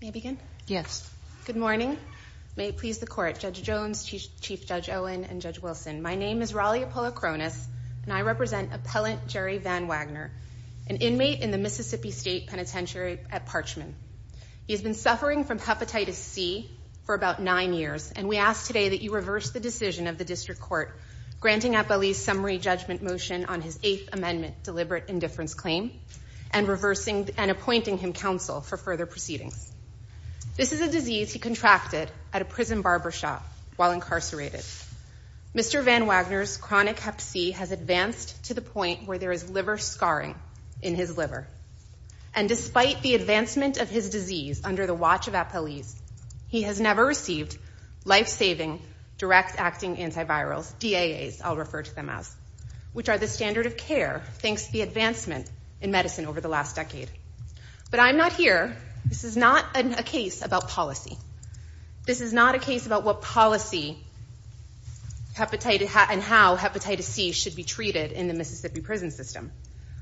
May I begin? Yes. Good morning. May it please the court. Judge Jones, Chief Judge Owen, and Judge Wilson, my name is Raleigh Apollacronis and I represent Appellant Jerry VanWagner, an inmate in the Mississippi State Penitentiary at Parchman. He has been suffering from Hepatitis C for about nine years and we ask today that you reverse the decision of the District Court granting Apolli's summary judgment motion on his Eighth Amendment deliberate indifference claim and reversing and appointing him counsel for further proceedings. This is a disease he contracted at a prison barbershop while incarcerated. Mr. VanWagner's chronic Hep C has advanced to the point where there is liver scarring in his liver and despite the advancement of his disease under the watch of Apolli's, he has never received life-saving direct-acting antivirals, DAAs I'll refer to them as, which are the standard of care thanks to the medicine over the last decade. But I'm not here, this is not a case about policy. This is not a case about what policy and how Hepatitis C should be treated in the Mississippi prison system.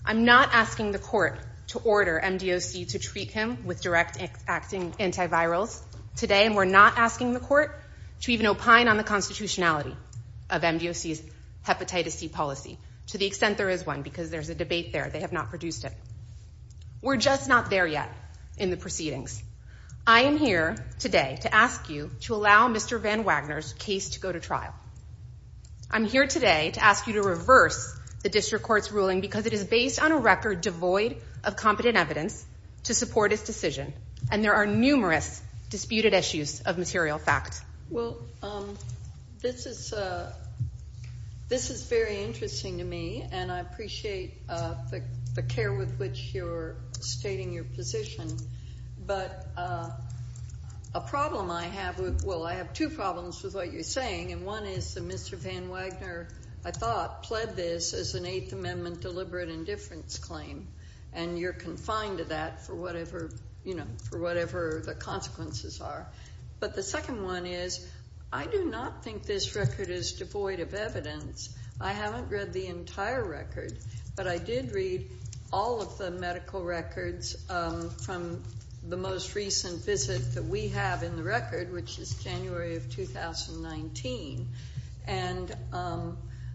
I'm not asking the court to order MDOC to treat him with direct-acting antivirals today and we're not asking the court to even opine on the constitutionality of MDOC's Hepatitis C policy to the extent there is one because there's a debate there, they have not produced it. We're just not there yet in the proceedings. I am here today to ask you to allow Mr. VanWagner's case to go to trial. I'm here today to ask you to reverse the District Court's ruling because it is based on a record devoid of competent evidence to support its decision and there are numerous disputed issues of I appreciate the care with which you're stating your position but a problem I have, well I have two problems with what you're saying and one is that Mr. VanWagner, I thought, pled this as an Eighth Amendment deliberate indifference claim and you're confined to that for whatever, you know, for whatever the consequences are. But the second one is I do not think this record is devoid of but I did read all of the medical records from the most recent visit that we have in the record which is January of 2019 and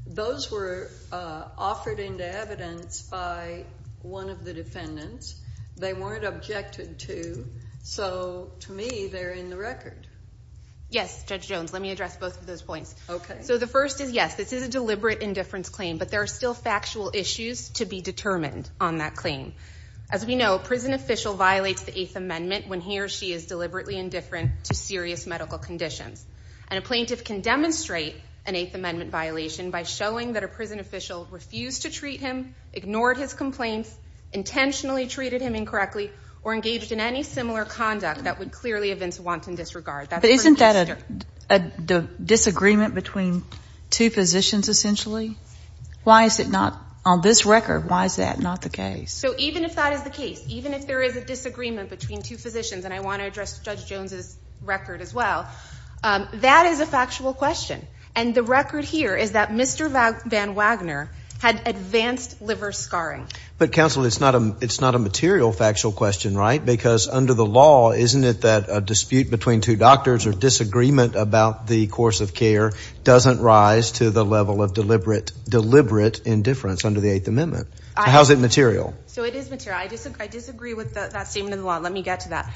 those were offered into evidence by one of the defendants. They weren't objected to so to me they're in the record. Yes, Judge Jones, let me address both of those points. Okay. So the first is yes, this is a deliberate indifference claim but there are still factual issues to be determined on that claim. As we know, a prison official violates the Eighth Amendment when he or she is deliberately indifferent to serious medical conditions and a plaintiff can demonstrate an Eighth Amendment violation by showing that a prison official refused to treat him, ignored his complaints, intentionally treated him incorrectly, or engaged in any similar conduct that would clearly have been to wanton disregard. But isn't that a disagreement between two physicians essentially? Why is it not, on this record, why is that not the case? So even if that is the case, even if there is a disagreement between two physicians, and I want to address Judge Jones's record as well, that is a factual question and the record here is that Mr. Van Wagner had advanced liver scarring. But counsel, it's not a material factual question, right? Because under the law, isn't it that a dispute between two doctors or disagreement about the course of care doesn't rise to the level of deliberate indifference under the Eighth Amendment? How is it material? So it is material. I disagree with that statement of the law. Let me get to that.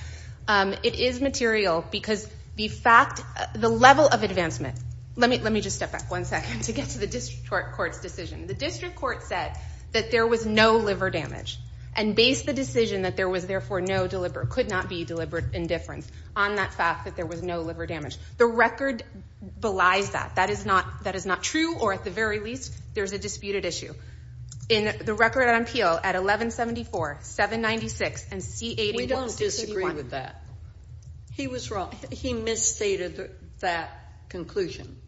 It is material because the fact, the level of advancement, let me just step back one second to get to the District Court's decision. The District Court said that there was no liver damage and based the decision that there was therefore no deliberate, could not be deliberate indifference on that fact that there was no liver damage. The record belies that. That is not true or at the very least there's a disputed issue. In the record on appeal at 1174, 796 and C81. We don't disagree with that. He was wrong. He misstated that conclusion.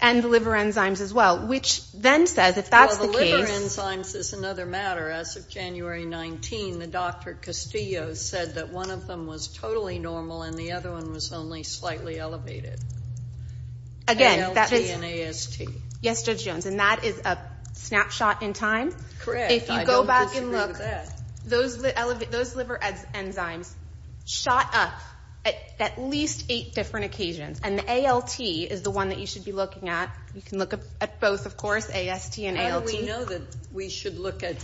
And the liver enzymes as well, which then says if the liver enzymes is another matter as of January 19, the Dr. Castillo said that one of them was totally normal and the other one was only slightly elevated. Again, ALT and AST. Yes, Judge Jones and that is a snapshot in time. Correct. If you go back and look, those liver enzymes shot up at least eight different occasions and the ALT is the one that you should be looking at. You know that we should look at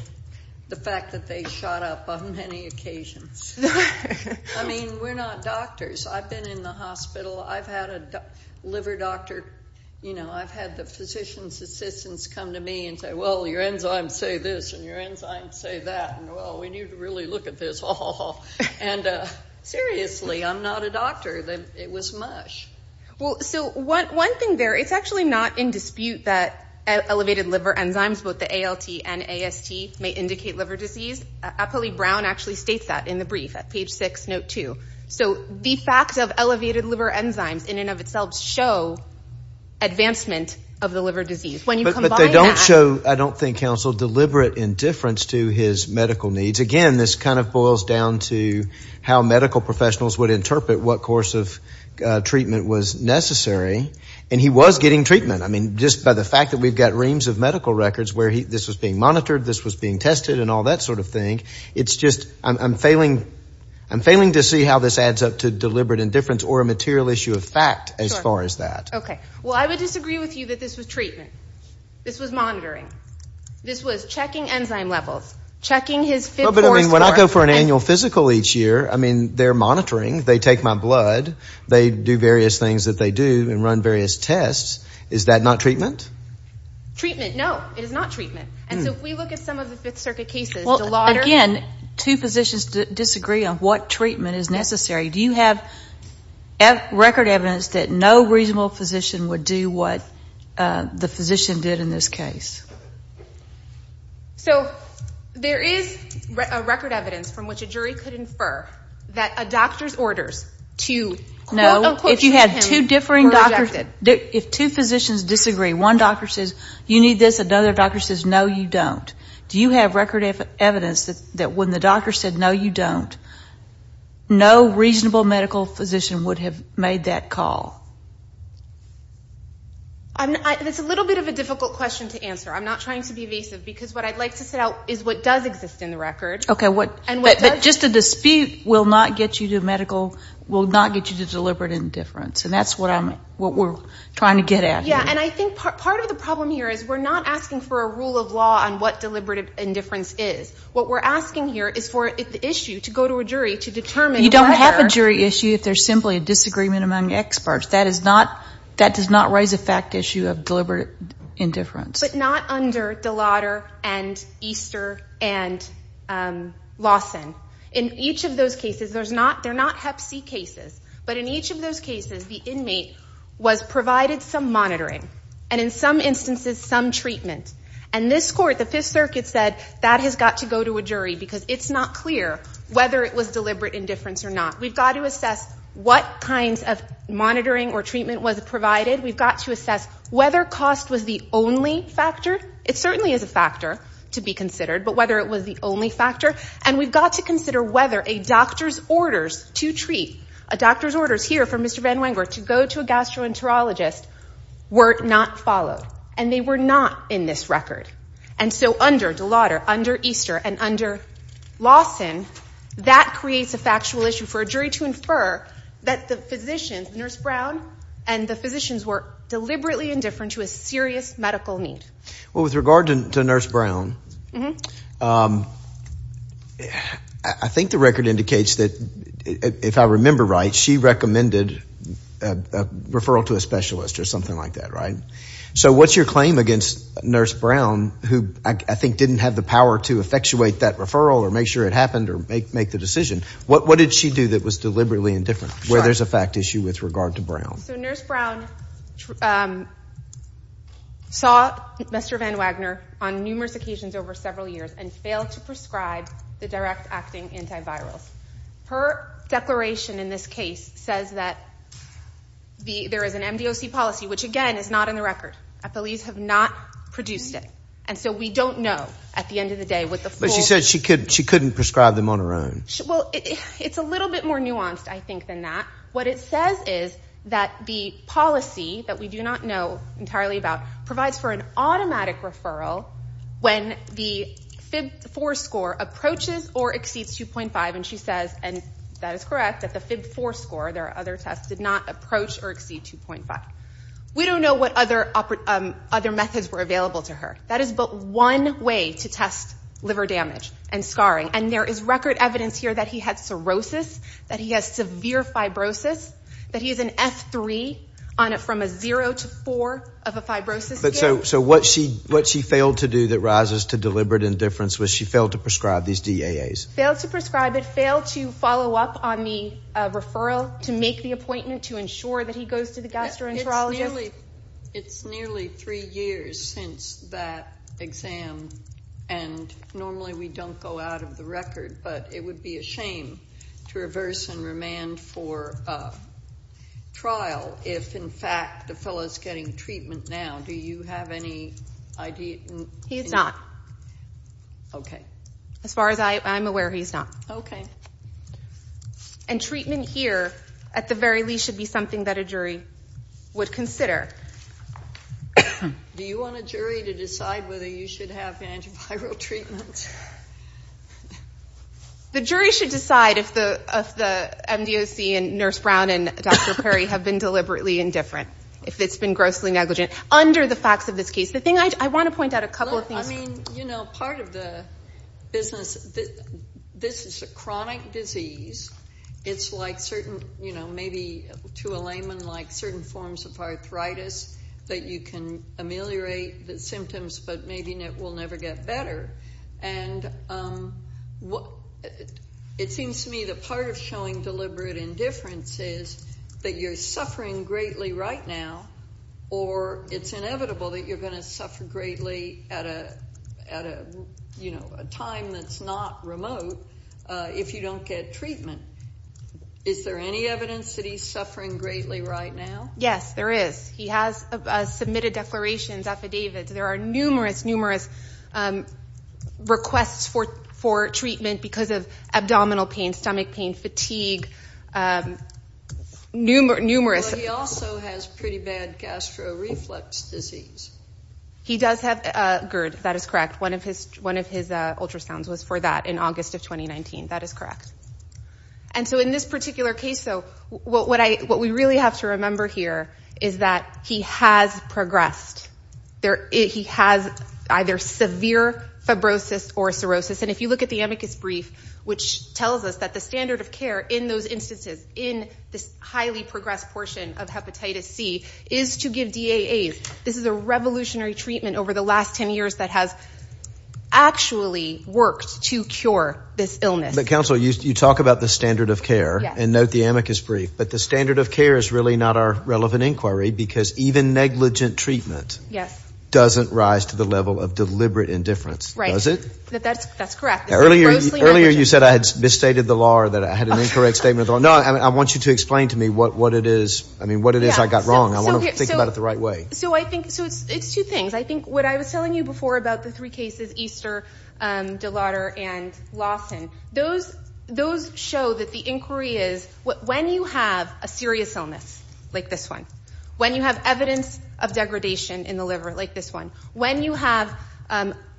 the fact that they shot up on many occasions. I mean, we're not doctors. I've been in the hospital. I've had a liver doctor, you know, I've had the physician's assistants come to me and say, well your enzymes say this and your enzymes say that. Well, we need to really look at this. And seriously, I'm not a doctor. It was mush. Well, so one thing there, it's actually not in dispute that elevated liver enzymes, both the ALT and AST, may indicate liver disease. Apolli Brown actually states that in the brief at page six, note two. So the fact of elevated liver enzymes in and of itself show advancement of the liver disease. But they don't show, I don't think, counsel, deliberate indifference to his medical needs. Again, this kind of boils down to how medical professionals would interpret what course of treatment was necessary. And he was getting treatment. I mean, just by the fact that we've got reams of medical records where this was being monitored, this was being tested, and all that sort of thing. It's just, I'm failing to see how this adds up to deliberate indifference or a material issue of fact as far as that. Okay. Well, I would disagree with you that this was treatment. This was monitoring. This was checking enzyme levels. Checking his... But I mean, when I go for an annual physical each year, I mean, they're monitoring. They take my blood. They do various things that they do and run various tests. Is that not treatment? Treatment, no. It is not treatment. And so if we look at some of the Fifth Circuit cases, the lauders... Again, two physicians disagree on what treatment is necessary. Do you have record evidence that no reasonable physician would do what the physician did in this case? So there is a record evidence from which a jury could infer that a doctor's no, you don't. Do you have record evidence that when the doctor said, no, you don't, no reasonable medical physician would have made that call? That's a little bit of a difficult question to answer. I'm not trying to be evasive. Because what I'd like to set out is what does exist in the record. Okay. But just a dispute will not get you to medical, will not get you to deliberate indifference. And that's what I'm, what we're trying to get at here. Yeah. And I think part of the problem here is we're not asking for a rule of law on what deliberate indifference is. What we're asking here is for the issue to go to a jury to determine whether... You don't have a jury issue if there's simply a disagreement among experts. That is not, that does not raise a fact issue of deliberate indifference. But not under the lauder and Easter and Lawson. In each of those cases, there's not, they're not hep C cases. But in each of those cases, the inmate was provided some monitoring. And in some instances, some treatment. And this court, the Fifth Circuit said, that has got to go to a jury. Because it's not clear whether it was deliberate indifference or not. We've got to assess what kinds of monitoring or treatment was provided. We've got to assess whether cost was the only factor. It certainly is a factor to be considered. But whether it was the only factor. And we've got to consider whether a doctor's orders to treat, a doctor's orders here from Mr. Van Wenger to go to a gastroenterologist were not followed. And they were not in this record. And so under the lauder, under Easter, and under Lawson, that creates a factual issue for a jury to infer that the physicians, Nurse Brown, and the physicians were deliberately indifferent to a serious medical need. Well, with regard to Nurse Brown, I think the record indicates that, if I remember right, she recommended a referral to a specialist or something like that, right? So what's your claim against Nurse Brown, who I think didn't have the power to effectuate that referral or make sure it happened or make the decision? What did she do that was deliberately indifferent, where there's a fact issue with regard to Brown? So Nurse Brown saw Mr. Van Wenger on numerous occasions over several years and failed to prescribe the direct acting antivirals. Her declaration in this case says that there is an MDOC policy, which again is not in the record. Police have not produced it. And so we don't know at the end of the day what the full... But she said she couldn't prescribe them on her own. Well, it's a little bit more nuanced, I think, than that. What it says is that the policy that we do not know entirely about provides for an automatic referral when the FIB-4 score approaches or exceeds 2.5. And she says, and that is correct, that the FIB-4 score, there are other tests, did not approach or exceed 2.5. We don't know what other methods were available to her. That is but one way to test here that he had cirrhosis, that he has severe fibrosis, that he has an F3 on it from a 0 to 4 of a fibrosis scale. So what she failed to do that rises to deliberate indifference was she failed to prescribe these DAAs. Failed to prescribe it, failed to follow up on the referral, to make the appointment, to ensure that he goes to the gastroenterologist. It's nearly three years since that exam, and normally we don't go out of the way, it would be a shame to reverse and remand for trial if, in fact, the fellow is getting treatment now. Do you have any idea? He's not. Okay. As far as I'm aware, he's not. Okay. And treatment here, at the very least, should be something that a jury would consider. Do you want a jury to decide whether you should have antiviral treatments? The jury should decide if the MDOC and Nurse Brown and Dr. Perry have been deliberately indifferent, if it's been grossly negligent. Under the facts of this case, the thing I want to point out a couple of things. I mean, you know, part of the business, this is a chronic disease. It's like certain, you know, maybe to a layman, like certain forms of arthritis that you can ameliorate the symptoms, but maybe it will never get better. And it seems to me the part of showing deliberate indifference is that you're suffering greatly right now, or it's inevitable that you're going to suffer greatly at a, you know, a time that's not remote if you don't get treatment. Is there any evidence that he's suffering greatly right now? Yes, there is. He has submitted declarations, affidavits. There are numerous, numerous requests for treatment because of abdominal pain, stomach pain, fatigue, numerous. He also has pretty bad gastroreflex disease. He does have GERD. That is correct. One of his ultrasounds was for that in August of 2019. That is correct. And so in this particular case, though, what we really have to remember here is that he has progressed. He has either severe fibrosis or cirrhosis. And if you look at the amicus brief, which tells us that the standard of care in those instances, in this highly progressed portion of hepatitis C, is to give DAAs. This is a revolutionary treatment over the last ten years that has actually worked to cure this illness. But, counsel, you talk about the standard of care. Yes. And note the amicus brief. But the standard of care is really not our relevant inquiry because even negligent treatment doesn't rise to the level of deliberate indifference. Right. Does it? That's correct. It's grossly negligent. Earlier you said I had misstated the law or that I had an incorrect statement. No, I want you to explain to me what it is. I mean, what it is I got wrong. I want to think about it the right way. So I think it's two things. I think what I was telling you before about the three cases, Easter, De Lauder, and Lawson, those show that the inquiry is when you have a serious illness, like this one, when you have evidence of degradation in the liver, like this one, when you have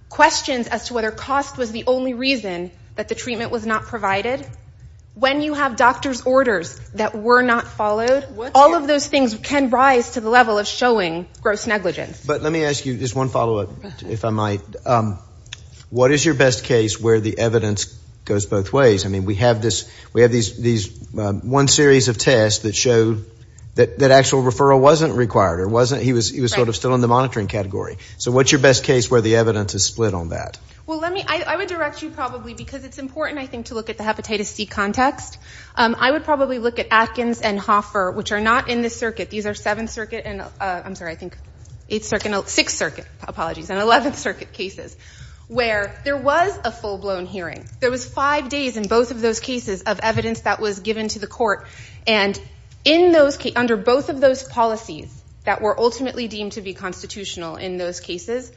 questions as to whether cost was the only reason that the treatment was not provided, when you have doctor's orders that were not followed, all of those things can rise to the level of showing gross negligence. But let me ask you just one follow-up, if I might. What is your best case where the evidence goes both ways? I mean, we have this, we have these one series of tests that show that actual referral wasn't required or wasn't, he was sort of still in the monitoring category. So what's your best case where the evidence is split on that? Well, let me, I would direct you probably, because it's important, I think, to look at the hepatitis C context. I would probably look at Atkins and Hoffer, which are not in this circuit. These are 7th Circuit and, I'm sorry, I think 8th Circuit and, 6th Circuit, apologies, and 11th Circuit cases, where there was a full-blown hearing. There was 5 days in both of those cases of evidence that was given to the court, and in those, under both of those policies that were ultimately deemed to be constitutional in those cases,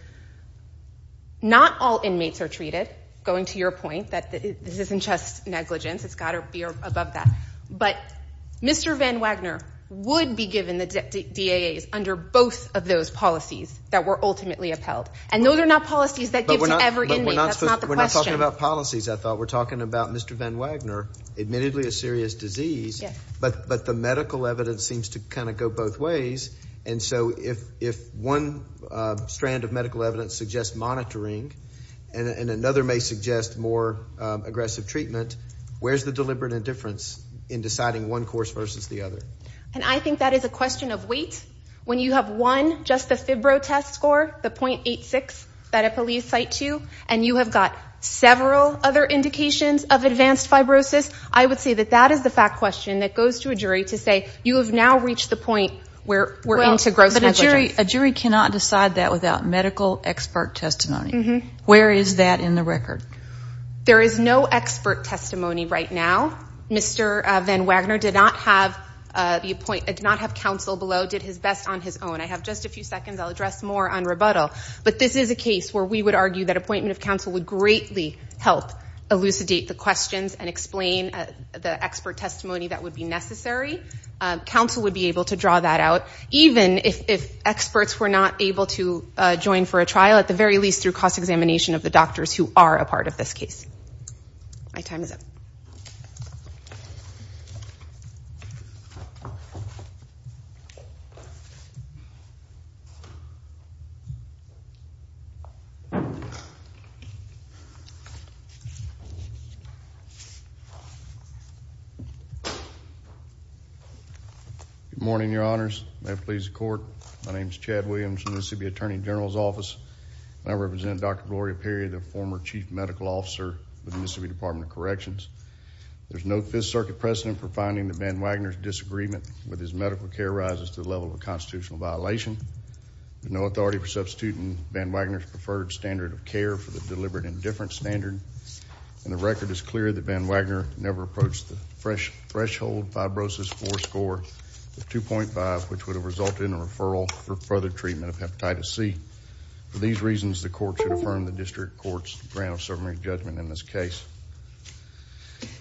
not all inmates are treated, going to your point, that this isn't just negligence. It's got to be above that. But Mr. Van Wagner would be given the DAAs under both of those policies that were ultimately upheld. And no, they're not policies that give to every inmate. That's not the question. But we're not talking about policies, I thought. We're talking about Mr. Van Wagner, admittedly a serious disease, but the medical evidence seems to kind of go both ways. And so if one strand of medical evidence suggests monitoring, and another may suggest more aggressive treatment, where's the deliberate indifference in deciding one course versus the other? And I think that is a question of weight. When you have one, just the fibro test score, the .86 that a police cite to, and you have got several other indications of advanced fibrosis, I would say that that is the fact question that goes to a jury to say, you have now reached the point where we're into gross negligence. But a jury cannot decide that without medical expert testimony. Where is that in the record? There is no expert testimony right now. Mr. Van Wagner did not have counsel below. Did his best on his own. I have just a few seconds. I'll address more on rebuttal. But this is a case where we would argue that appointment of counsel would greatly help elucidate the questions and explain the expert testimony that would be necessary. Counsel would be able to draw that out, even if experts were not able to join for a trial, at the very least through cost examination of the doctors who are a part of this case. My time is up. Good morning, your honors. May it please the court. My name is Chad Williams from the Mississippi Attorney General's Office. I represent Dr. Gloria Perry, the former chief medical officer with the Mississippi Department of Corrections. There's no Fifth Circuit precedent for finding that Van Wagner's disagreement with his medical care rises to the level of a constitutional violation. There's no authority for substituting Van Wagner's preferred standard of care for the deliberate indifference standard. And the record is clear that Van Wagner never approached the threshold fibrosis four score of 2.5, which would have resulted in a referral for further treatment of hepatitis C. For these reasons, the court should affirm the district court's grant of summary judgment in this case.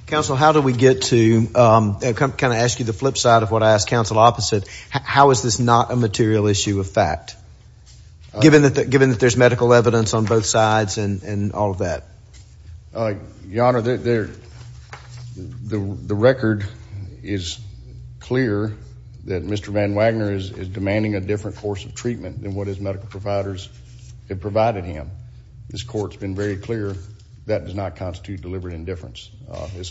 Counsel, how do we get to kind of ask you the flip side of what I asked counsel opposite? How is this not a material issue of fact, given that there's medical evidence on both sides and all of that? Your honor, the record is clear that Mr. Van Wagner is demanding a different course of treatment than what his medical providers have provided him. This court's been very clear that does not constitute deliberate indifference.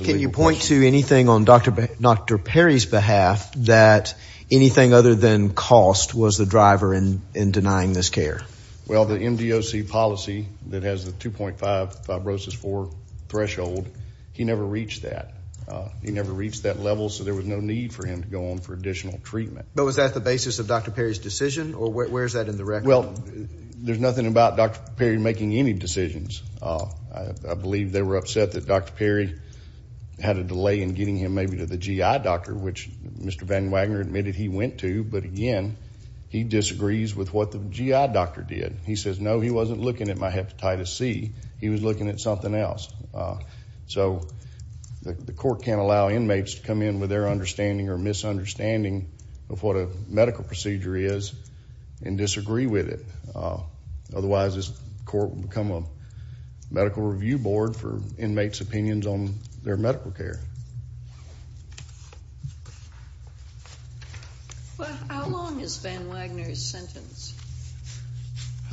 Can you point to anything on Dr. Perry's behalf that anything other than cost was the driver in denying this care? Well, the MDOC policy that has the 2.5 fibrosis four threshold, he never reached that. He never reached that level, so there was no need for him to go on for additional treatment. But was that the basis of Dr. Perry's decision, or where is that in the record? Well, there's nothing about Dr. Perry making any decisions. I believe they were upset that Dr. Perry had a delay in getting him maybe to the GI doctor, which Mr. Van Wagner admitted he went to, but again, he disagrees with what the GI doctor did. He says, no, he wasn't looking at my hepatitis C. He was looking at something else. So the court can't allow inmates to come in with their understanding or misunderstanding of what a medical procedure is and disagree with it. Otherwise, this court will become a medical review board for inmates' opinions on their medical care. How long is Van Wagner's sentence?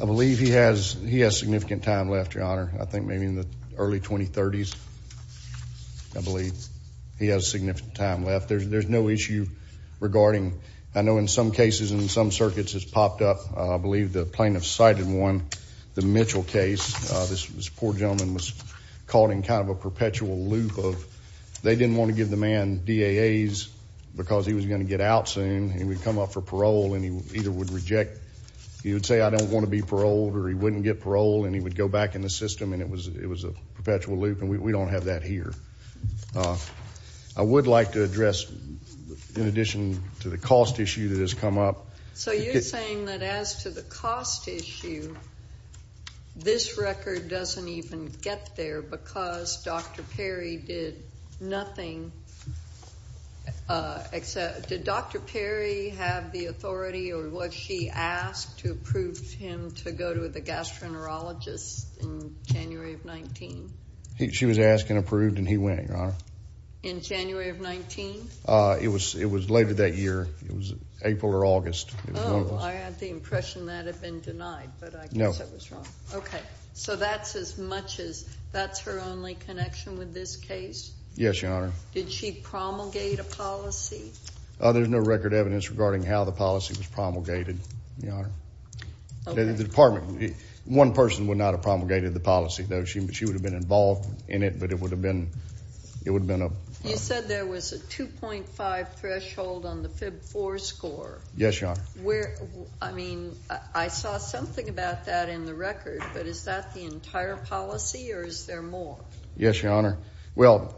I believe he has significant time left, Your Honor. I think maybe in the early 2030s. I believe he has significant time left. There's no issue regarding. I know in some cases and in some circuits it's popped up. I believe the plaintiff cited one, the Mitchell case. This poor gentleman was caught in kind of a perpetual loop of they didn't want to give the man DAAs because he was going to get out soon. He would come up for parole, and he either would reject. He would say, I don't want to be paroled, or he wouldn't get parole, and he would go back in the system, and it was a perpetual loop, and we don't have that here. I would like to address, in addition to the cost issue that has come up. So you're saying that as to the cost issue, this record doesn't even get there because Dr. Perry did nothing except. Did Dr. Perry have the authority, or was she asked to approve him to go to the gastroenterologist in January of 19? She was asked and approved, and he went, Your Honor. In January of 19? It was later that year. It was April or August. Oh, I had the impression that had been denied, but I guess I was wrong. No. Okay. So that's as much as, that's her only connection with this case? Yes, Your Honor. Did she promulgate a policy? There's no record evidence regarding how the policy was promulgated, Your Honor. The department, one person would not have promulgated the policy, though she would have been involved in it, but it would have been a... You said there was a 2.5 threshold on the FIB 4 score. Yes, Your Honor. I mean, I saw something about that in the record, but is that the entire policy, or is there more? Yes, Your Honor. Well,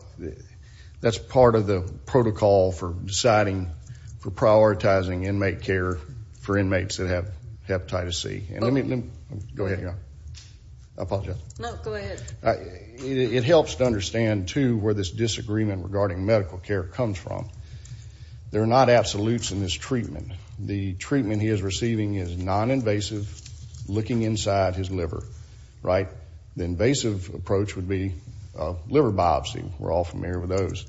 that's part of the protocol for deciding, for prioritizing inmate care for inmates that have hepatitis C. Go ahead, Your Honor. I apologize. No, go ahead. It helps to understand, too, where this disagreement regarding medical care comes from. There are not absolutes in this treatment. The treatment he is receiving is noninvasive, looking inside his liver, right? The invasive approach would be a liver biopsy. We're all familiar with those.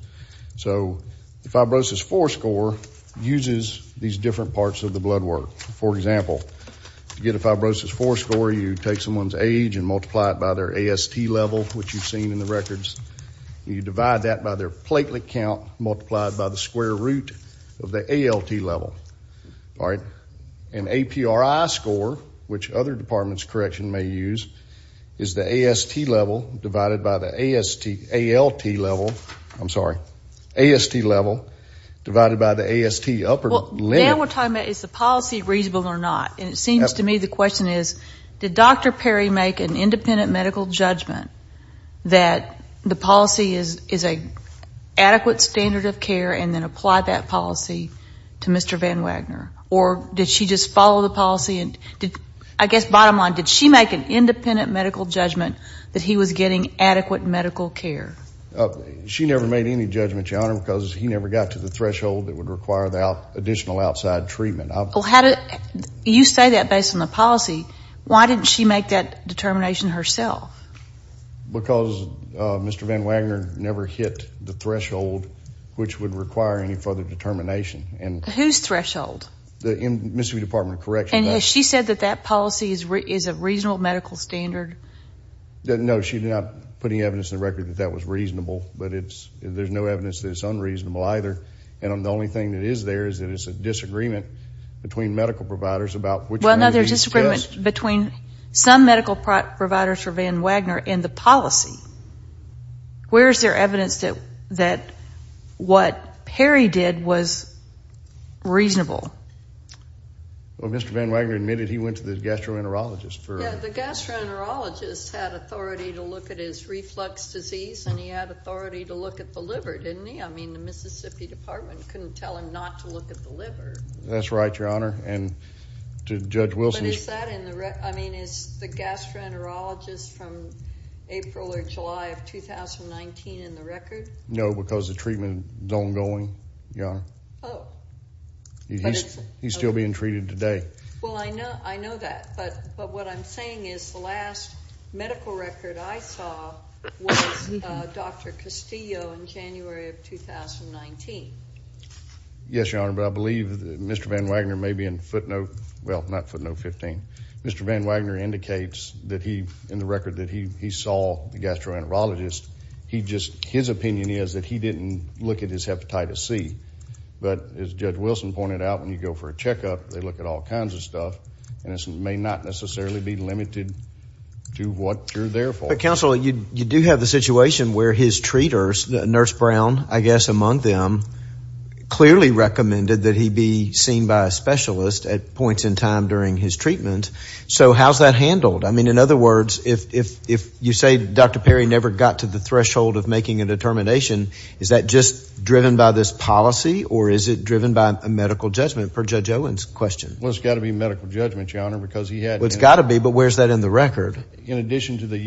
So the fibrosis 4 score uses these different parts of the blood work. For example, to get a fibrosis 4 score, you take someone's age and multiply it by their AST level, which you've seen in the records. You divide that by their platelet count, multiply it by the square root of the ALT level. All right? An APRI score, which other departments' correction may use, is the AST level divided by the ALT level. I'm sorry. AST level divided by the AST upper limit. Well, now we're talking about is the policy reasonable or not. And it seems to me the question is, did Dr. Perry make an independent medical judgment that the policy is an adequate standard of care and then apply that policy to Mr. Van Wagner? Or did she just follow the policy and did, I guess, bottom line, did she make an independent medical judgment that he was getting adequate medical care? She never made any judgment, Your Honor, because he never got to the threshold that would require additional outside treatment. You say that based on the policy. Why didn't she make that determination herself? Because Mr. Van Wagner never hit the threshold which would require any further determination. Whose threshold? The Mississippi Department of Corrections. And has she said that that policy is a reasonable medical standard? No, she's not putting evidence in the record that that was reasonable, but there's no evidence that it's unreasonable either. And the only thing that is there is that it's a disagreement between medical providers about which one of these is just. Well, no, there's disagreement between some medical providers for Van Wagner and the policy. Where is there evidence that what Perry did was reasonable? Well, Mr. Van Wagner admitted he went to the gastroenterologist. The gastroenterologist had authority to look at his reflux disease and he had authority to look at the liver, didn't he? I mean, the Mississippi Department couldn't tell him not to look at the liver. That's right, Your Honor, and to Judge Wilson. But is that in the record? I mean, is the gastroenterologist from April or July of 2019 in the record? No, because the treatment is ongoing, Your Honor. Oh. He's still being treated today. Well, I know that, but what I'm saying is the last medical record I saw was Dr. Castillo in January of 2019. Yes, Your Honor, but I believe that Mr. Van Wagner may be in footnote, well, not footnote 15. Mr. Van Wagner indicates that he, in the record, that he saw the gastroenterologist. His opinion is that he didn't look at his hepatitis C, but as Judge Wilson pointed out, when you go for a checkup, they look at all kinds of stuff and this may not necessarily be limited to what you're there for. But, counsel, you do have the situation where his treaters, Nurse Brown, I guess, among them, clearly recommended that he be seen by a specialist at points in time during his treatment. So how's that handled? I mean, in other words, if you say Dr. Perry never got to the threshold of making a determination, is that just driven by this policy or is it driven by a medical judgment, per Judge Owen's question? Well, it's got to be medical judgment, Your Honor, because he had… Well, it's got to be, but where's that in the record? In addition to the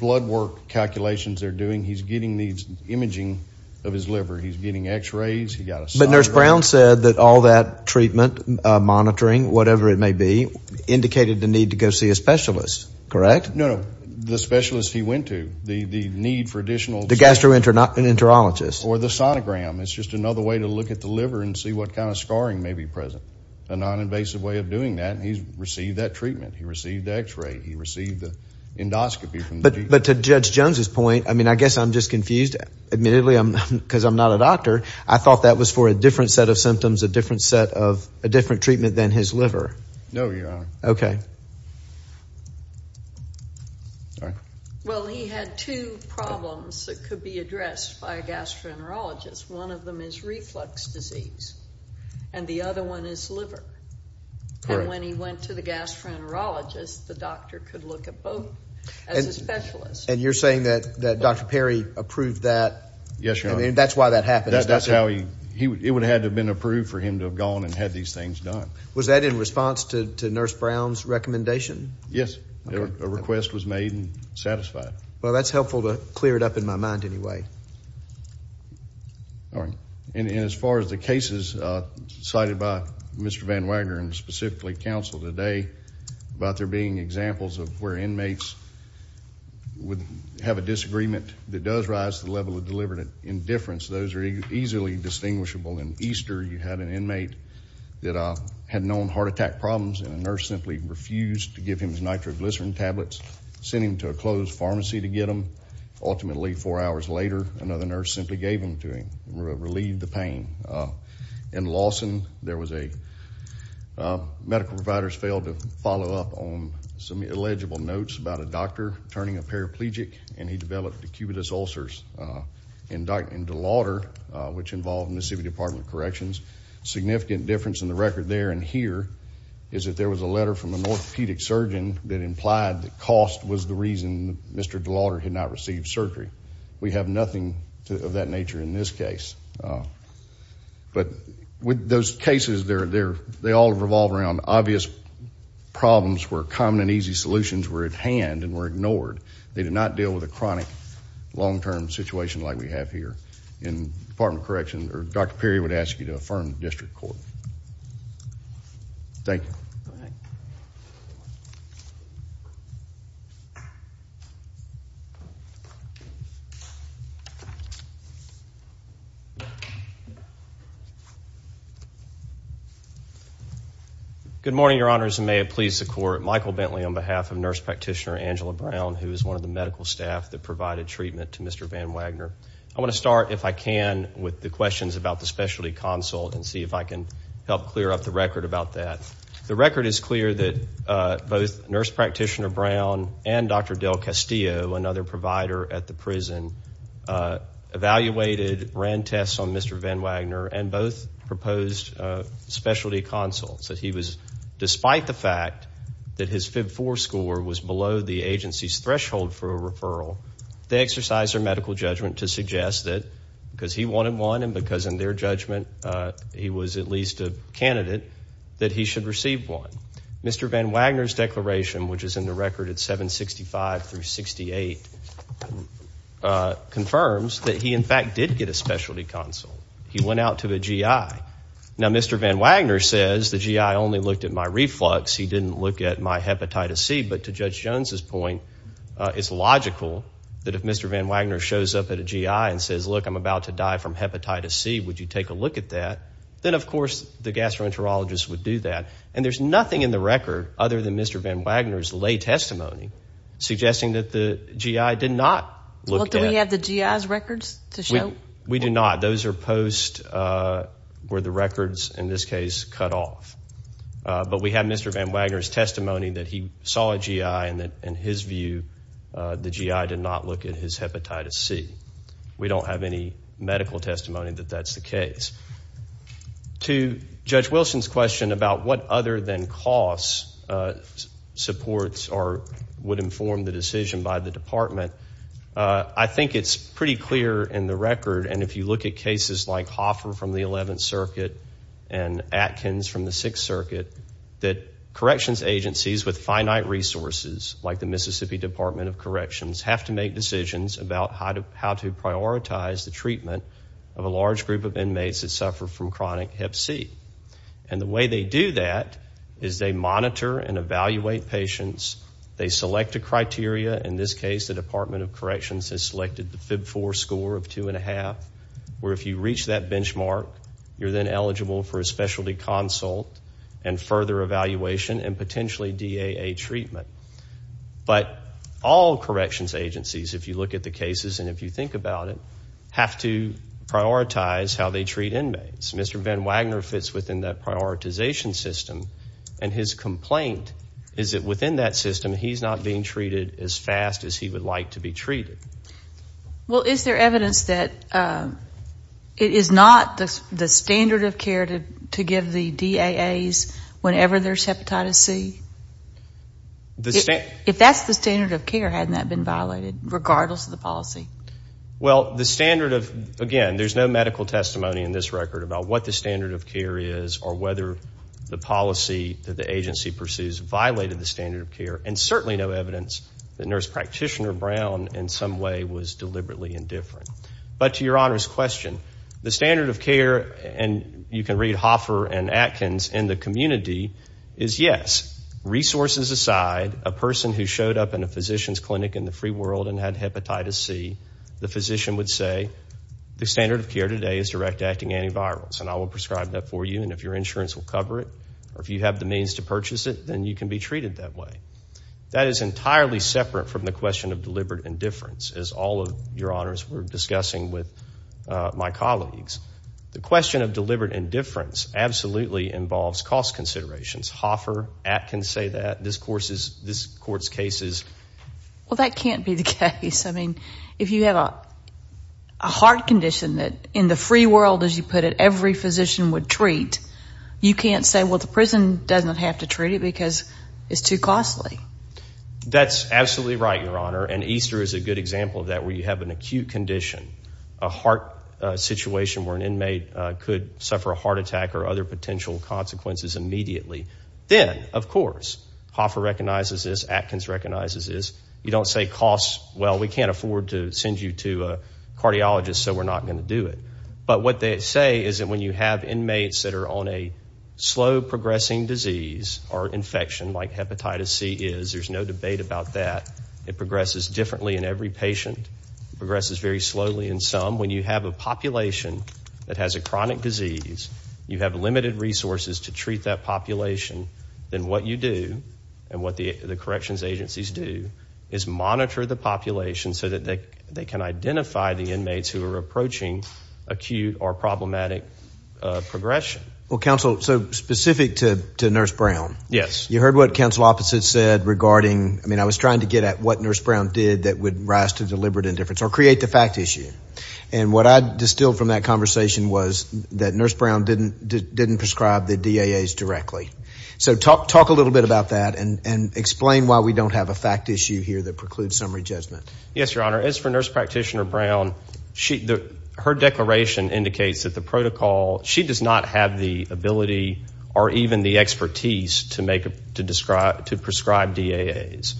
blood work calculations they're doing, he's getting these imaging of his liver. He's getting x-rays. But Nurse Brown said that all that treatment, monitoring, whatever it may be, indicated the need to go see a specialist, correct? No, no, the specialist he went to, the need for additional… The gastroenterologist. Or the sonogram. It's just another way to look at the liver and see what kind of scarring may be present. A non-invasive way of doing that, and he's received that treatment. He received the x-ray. He received the endoscopy from the… But to Judge Jones' point, I mean, I guess I'm just confused. Admittedly, because I'm not a doctor, I thought that was for a different set of symptoms, a different treatment than his liver. No, Your Honor. Okay. All right. Well, he had two problems that could be addressed by a gastroenterologist. One of them is reflux disease, and the other one is liver. And when he went to the gastroenterologist, the doctor could look at both as a specialist. And you're saying that Dr. Perry approved that? Yes, Your Honor. I mean, that's why that happened. That's how he… It would have had to have been approved for him to have gone and had these things done. Was that in response to Nurse Brown's recommendation? Yes. A request was made and satisfied. Well, that's helpful to clear it up in my mind anyway. All right. And as far as the cases cited by Mr. Van Wagner and specifically counsel today, about there being examples of where inmates would have a disagreement that does rise to the level of deliberate indifference, those are easily distinguishable. In Easter, you had an inmate that had known heart attack problems, and a nurse simply refused to give him his nitroglycerin tablets, sent him to a closed pharmacy to get them. Ultimately, four hours later, another nurse simply gave them to him and relieved the pain. In Lawson, medical providers failed to follow up on some illegible notes about a doctor turning a paraplegic, and he developed acubitus ulcers. In De Lauder, which involved Mississippi Department of Corrections, significant difference in the record there and here is that there was a letter from an orthopedic surgeon that implied that cost was the reason Mr. De Lauder had not received surgery. We have nothing of that nature in this case. But with those cases, they all revolve around obvious problems where common and easy solutions were at hand and were ignored. They did not deal with a chronic, long-term situation like we have here. In Department of Corrections, Dr. Perry would ask you to affirm the district court. Thank you. Good morning, Your Honors, and may it please the court, I'm Michael Bentley on behalf of Nurse Practitioner Angela Brown, who is one of the medical staff that provided treatment to Mr. Van Wagner. I want to start, if I can, with the questions about the specialty consult and see if I can help clear up the record about that. The record is clear that both Nurse Practitioner Brown and Dr. Del Castillo, another provider at the prison, evaluated, ran tests on Mr. Van Wagner, and both proposed specialty consults. Despite the fact that his FIB-4 score was below the agency's threshold for a referral, they exercised their medical judgment to suggest that, because he wanted one and because in their judgment he was at least a candidate, that he should receive one. Mr. Van Wagner's declaration, which is in the record at 765 through 68, confirms that he, in fact, did get a specialty consult. He went out to a GI. Now, Mr. Van Wagner says, the GI only looked at my reflux. He didn't look at my hepatitis C. But to Judge Jones's point, it's logical that if Mr. Van Wagner shows up at a GI and says, look, I'm about to die from hepatitis C, would you take a look at that? Then, of course, the gastroenterologist would do that. And there's nothing in the record, other than Mr. Van Wagner's lay testimony, suggesting that the GI did not look at it. Do we have the GI's records to show? We do not. Those are posts where the records, in this case, cut off. But we have Mr. Van Wagner's testimony that he saw a GI and that, in his view, the GI did not look at his hepatitis C. We don't have any medical testimony that that's the case. To Judge Wilson's question about what other than costs supports or would inform the decision by the department, I think it's pretty clear in the record, and if you look at cases like Hoffer from the 11th Circuit and Atkins from the 6th Circuit, that corrections agencies with finite resources, like the Mississippi Department of Corrections, have to make decisions about how to prioritize the treatment of a large group of inmates that suffer from chronic hep C. And the way they do that is they monitor and evaluate patients. They select a criteria. In this case, the Department of Corrections has selected the FIB-4 score of 2.5, where if you reach that benchmark, you're then eligible for a specialty consult and further evaluation and potentially DAA treatment. But all corrections agencies, if you look at the cases and if you think about it, have to prioritize how they treat inmates. Mr. Van Wagner fits within that prioritization system, and his complaint is that within that system, he's not being treated as fast as he would like to be treated. Well, is there evidence that it is not the standard of care to give the DAAs whenever there's hepatitis C? If that's the standard of care, hadn't that been violated, regardless of the policy? Well, the standard of, again, there's no medical testimony in this record about what the standard of care is or whether the policy that the agency pursues violated the standard of care, and certainly no evidence that Nurse Practitioner Brown, in some way, was deliberately indifferent. But to Your Honor's question, the standard of care, and you can read Hoffer and Atkins in the community, is, yes, resources aside, a person who showed up in a physician's clinic in the free world and had hepatitis C, the physician would say, the standard of care today is direct-acting antivirals, and I will prescribe that for you, and if your insurance will cover it, or if you have the means to purchase it, then you can be treated that way. That is entirely separate from the question of deliberate indifference, as all of Your Honors were discussing with my colleagues. The question of deliberate indifference absolutely involves cost considerations. Hoffer, Atkins say that. This Court's case is... Well, that can't be the case. I mean, if you have a heart condition that in the free world, as you put it, every physician would treat, you can't say, well, the prison doesn't have to treat it because it's too costly. That's absolutely right, Your Honor, and Easter is a good example of that where you have an acute condition, a heart situation where an inmate could suffer a heart attack or other potential consequences immediately. Then, of course, Hoffer recognizes this, Atkins recognizes this. You don't say cost, well, we can't afford to send you to a cardiologist, so we're not going to do it. But what they say is that when you have inmates that are on a slow-progressing disease or infection like hepatitis C is, there's no debate about that. It progresses differently in every patient. It progresses very slowly in some. When you have a population that has a chronic disease, you have limited resources to treat that population, then what you do and what the corrections agencies do is monitor the population so that they can identify the inmates who are approaching acute or problematic progression. Well, counsel, so specific to Nurse Brown. Yes. You heard what counsel Opposite said regarding, I mean, I was trying to get at what Nurse Brown did that would rise to deliberate indifference or create the fact issue, and what I distilled from that conversation was that So talk a little bit about that and explain why we don't have a fact issue here that precludes summary judgment. Yes, Your Honor. As for Nurse Practitioner Brown, her declaration indicates that the protocol, she does not have the ability or even the expertise to prescribe DAAs.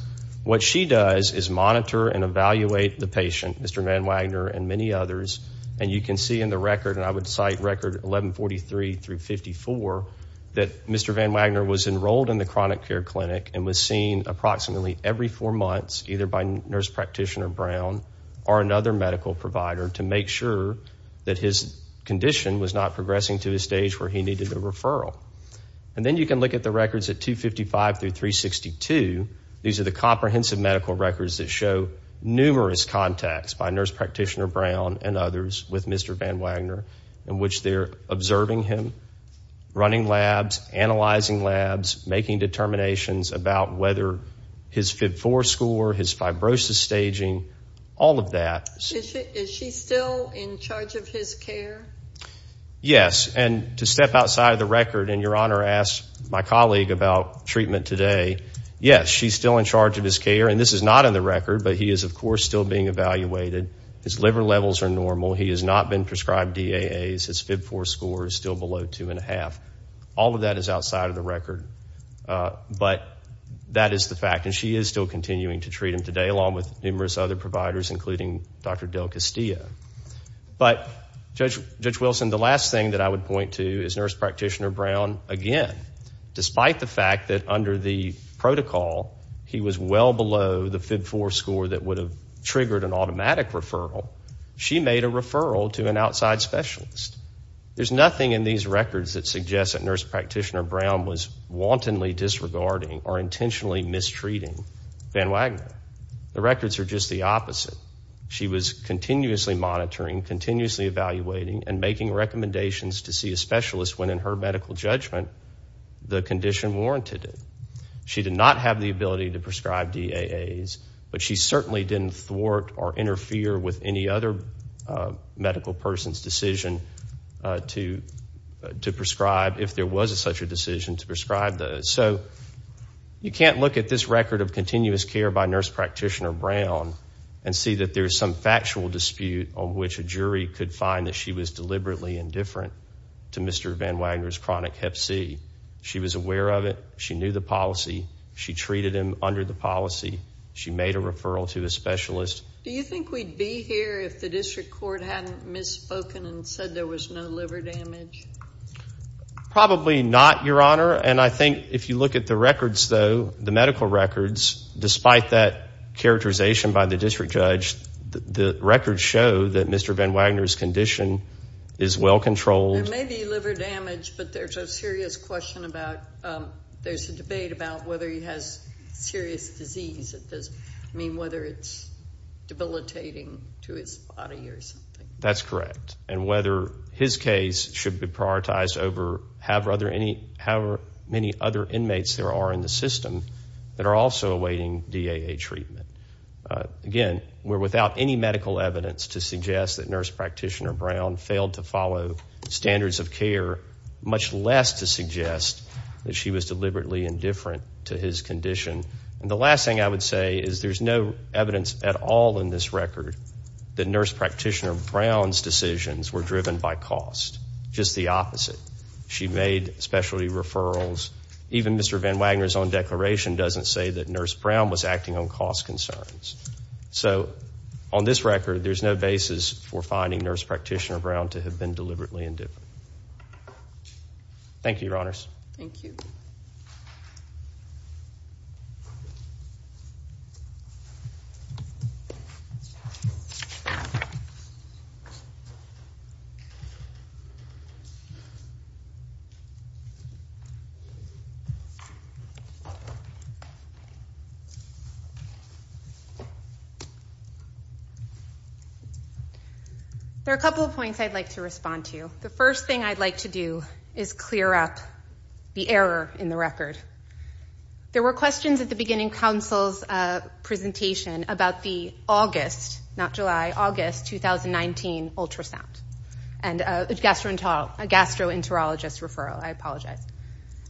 What she does is monitor and evaluate the patient, Mr. Van Wagner and many others, and you can see in the record, and I would cite record 1143 through 54, that Mr. Van Wagner was enrolled in the chronic care clinic and was seen approximately every four months, either by Nurse Practitioner Brown or another medical provider to make sure that his condition was not progressing to a stage where he needed a referral. And then you can look at the records at 255 through 362. These are the comprehensive medical records that show numerous contacts by Nurse Practitioner Brown and others with Mr. Van Wagner in which they're observing him, running labs, analyzing labs, making determinations about whether his FYB4 score, his fibrosis staging, all of that. Is she still in charge of his care? Yes, and to step outside of the record, and Your Honor asked my colleague about treatment today, yes, she's still in charge of his care, and this is not in the record, but he is, of course, still being evaluated. His liver levels are normal. He has not been prescribed DAAs. His FYB4 score is still below two and a half. All of that is outside of the record, but that is the fact, and she is still continuing to treat him today along with numerous other providers, including Dr. Del Castillo. But, Judge Wilson, the last thing that I would point to is Nurse Practitioner Brown again, despite the fact that under the protocol he was well below the FYB4 score that would have triggered an automatic referral, she made a referral to an outside specialist. There's nothing in these records that suggests that Nurse Practitioner Brown was wantonly disregarding or intentionally mistreating Van Wagner. The records are just the opposite. She was continuously monitoring, continuously evaluating, and making recommendations to see a specialist when in her medical judgment the condition warranted it. She did not have the ability to prescribe DAAs, but she certainly didn't thwart or interfere with any other medical person's decision to prescribe, if there was such a decision, to prescribe those. So, you can't look at this record of continuous care by Nurse Practitioner Brown and see that there's some factual dispute on which a jury could find that she was deliberately indifferent to Mr. Van Wagner's chronic hep C. She treated him under the policy. She made a referral to a specialist. Do you think we'd be here if the district court hadn't misspoken and said there was no liver damage? Probably not, Your Honor, and I think if you look at the records, though, the medical records, despite that characterization by the district judge, the records show that Mr. Van Wagner's condition is well controlled. There may be liver damage, but there's a serious question about, there's a debate about whether he has serious disease. I mean, whether it's debilitating to his body or something. That's correct, and whether his case should be prioritized over how many other inmates there are in the system that are also awaiting DAA treatment. Again, we're without any medical evidence to suggest that Nurse Practitioner Brown failed to follow standards of care, much less to suggest that she was deliberately indifferent to his condition. And the last thing I would say is there's no evidence at all in this record that Nurse Practitioner Brown's decisions were driven by cost. Just the opposite. She made specialty referrals. Even Mr. Van Wagner's own declaration doesn't say that Nurse Brown was acting on cost concerns. So on this record, there's no basis for finding Nurse Practitioner Brown to have been deliberately indifferent. Thank you, Your Honors. Thank you. Thank you. There are a couple of points I'd like to respond to. The first thing I'd like to do is clear up the error in the record. There were questions at the beginning of Council's presentation about the August, not July, August 2019 ultrasound and a gastroenterologist referral. I apologize.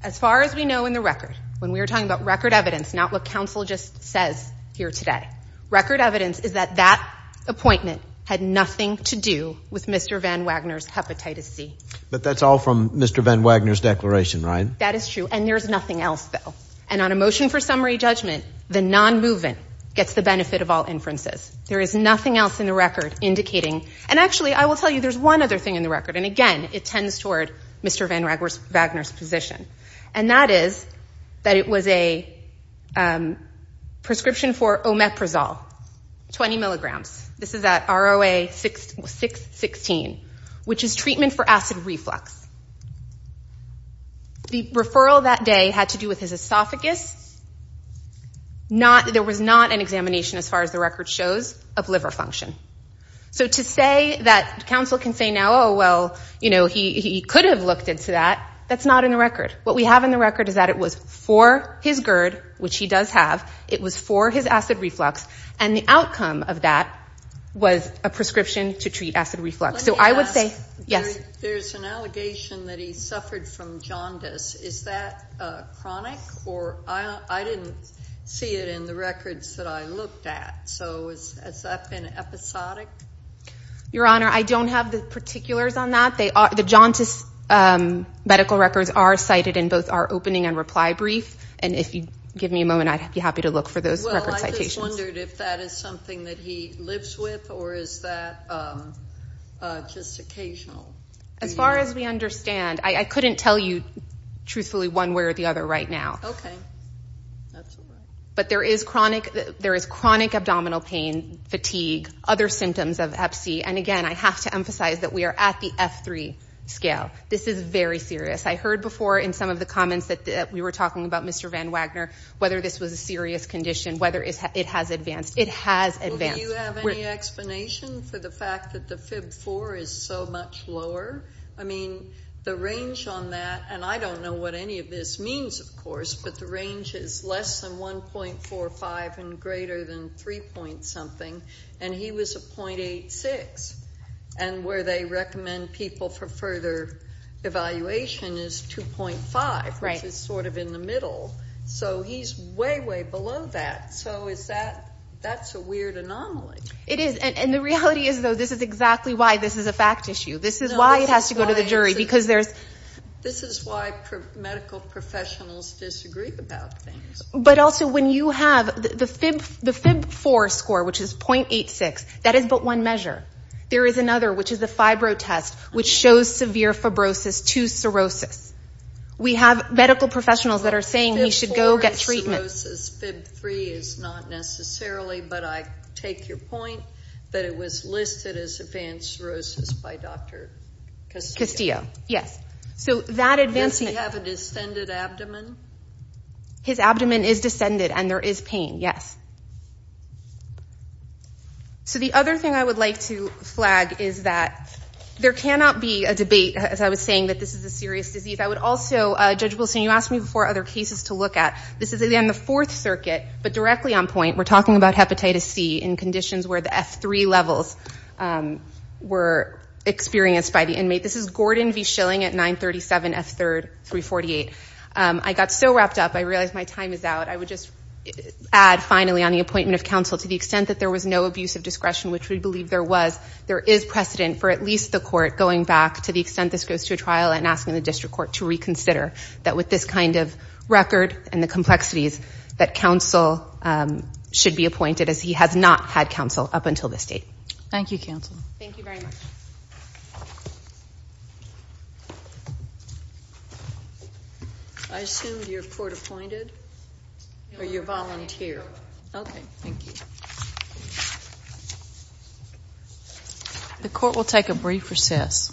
As far as we know in the record, when we were talking about record evidence, not what Council just says here today, record evidence is that that appointment had nothing to do with Mr. Van Wagner's hepatitis C. But that's all from Mr. Van Wagner's declaration, right? That is true. And there's nothing else, though. And on a motion for summary judgment, the non-movement gets the benefit of all inferences. There is nothing else in the record indicating. And actually, I will tell you, there's one other thing in the record. And again, it tends toward Mr. Van Wagner's position. And that is that it was a prescription for omeprazole, 20 milligrams. This is at ROA 616, which is treatment for acid reflux. The referral that day had to do with his esophagus. There was not an examination, as far as the record shows, of liver function. So to say that Council can say now, oh, well, you know, he could have looked into that, that's not in the record. What we have in the record is that it was for his GERD, which he does have. It was for his acid reflux. And the outcome of that was a prescription to treat acid reflux. So I would say yes. There's an allegation that he suffered from jaundice. Is that chronic? Or I didn't see it in the records that I looked at. So has that been episodic? Your Honor, I don't have the particulars on that. The jaundice medical records are cited in both our opening and reply brief. And if you give me a moment, I'd be happy to look for those record citations. I just wondered if that is something that he lives with, or is that just occasional? As far as we understand, I couldn't tell you truthfully one way or the other right now. Okay. That's all right. But there is chronic abdominal pain, fatigue, other symptoms of EPSI. And, again, I have to emphasize that we are at the F3 scale. This is very serious. I heard before in some of the comments that we were talking about Mr. Van Wagner, whether this was a serious condition, whether it has advanced. It has advanced. Do you have any explanation for the fact that the FIB 4 is so much lower? I mean, the range on that, and I don't know what any of this means, of course, but the range is less than 1.45 and greater than 3-point-something. And he was a .86. And where they recommend people for further evaluation is 2.5, which is sort of in the middle. So he's way, way below that. So that's a weird anomaly. It is. And the reality is, though, this is exactly why this is a fact issue. This is why it has to go to the jury. This is why medical professionals disagree about things. But also when you have the FIB 4 score, which is .86, that is but one measure. There is another, which is the fibro test, which shows severe fibrosis to cirrhosis. We have medical professionals that are saying we should go get treatment. FIB 4 is cirrhosis. FIB 3 is not necessarily. But I take your point that it was listed as advanced cirrhosis by Dr. Castillo. Castillo, yes. So that advancement. Does he have a descended abdomen? His abdomen is descended, and there is pain, yes. So the other thing I would like to flag is that there cannot be a debate, as I was saying, that this is a serious disease. I would also, Judge Wilson, you asked me before other cases to look at. This is, again, the Fourth Circuit, but directly on point. We're talking about hepatitis C in conditions where the F3 levels were experienced by the inmate. This is Gordon v. Schilling at 937 F3, 348. I got so wrapped up, I realized my time is out. I would just add, finally, on the appointment of counsel, to the extent that there was no abuse of discretion, which we believe there was, there is precedent for at least the court going back to the extent this goes to a trial and asking the district court to reconsider that with this kind of record and the complexities that counsel should be appointed, as he has not had counsel up until this date. Thank you, counsel. Thank you very much. I assume you're court-appointed or you're volunteer. Okay, thank you. The court will take a brief recess.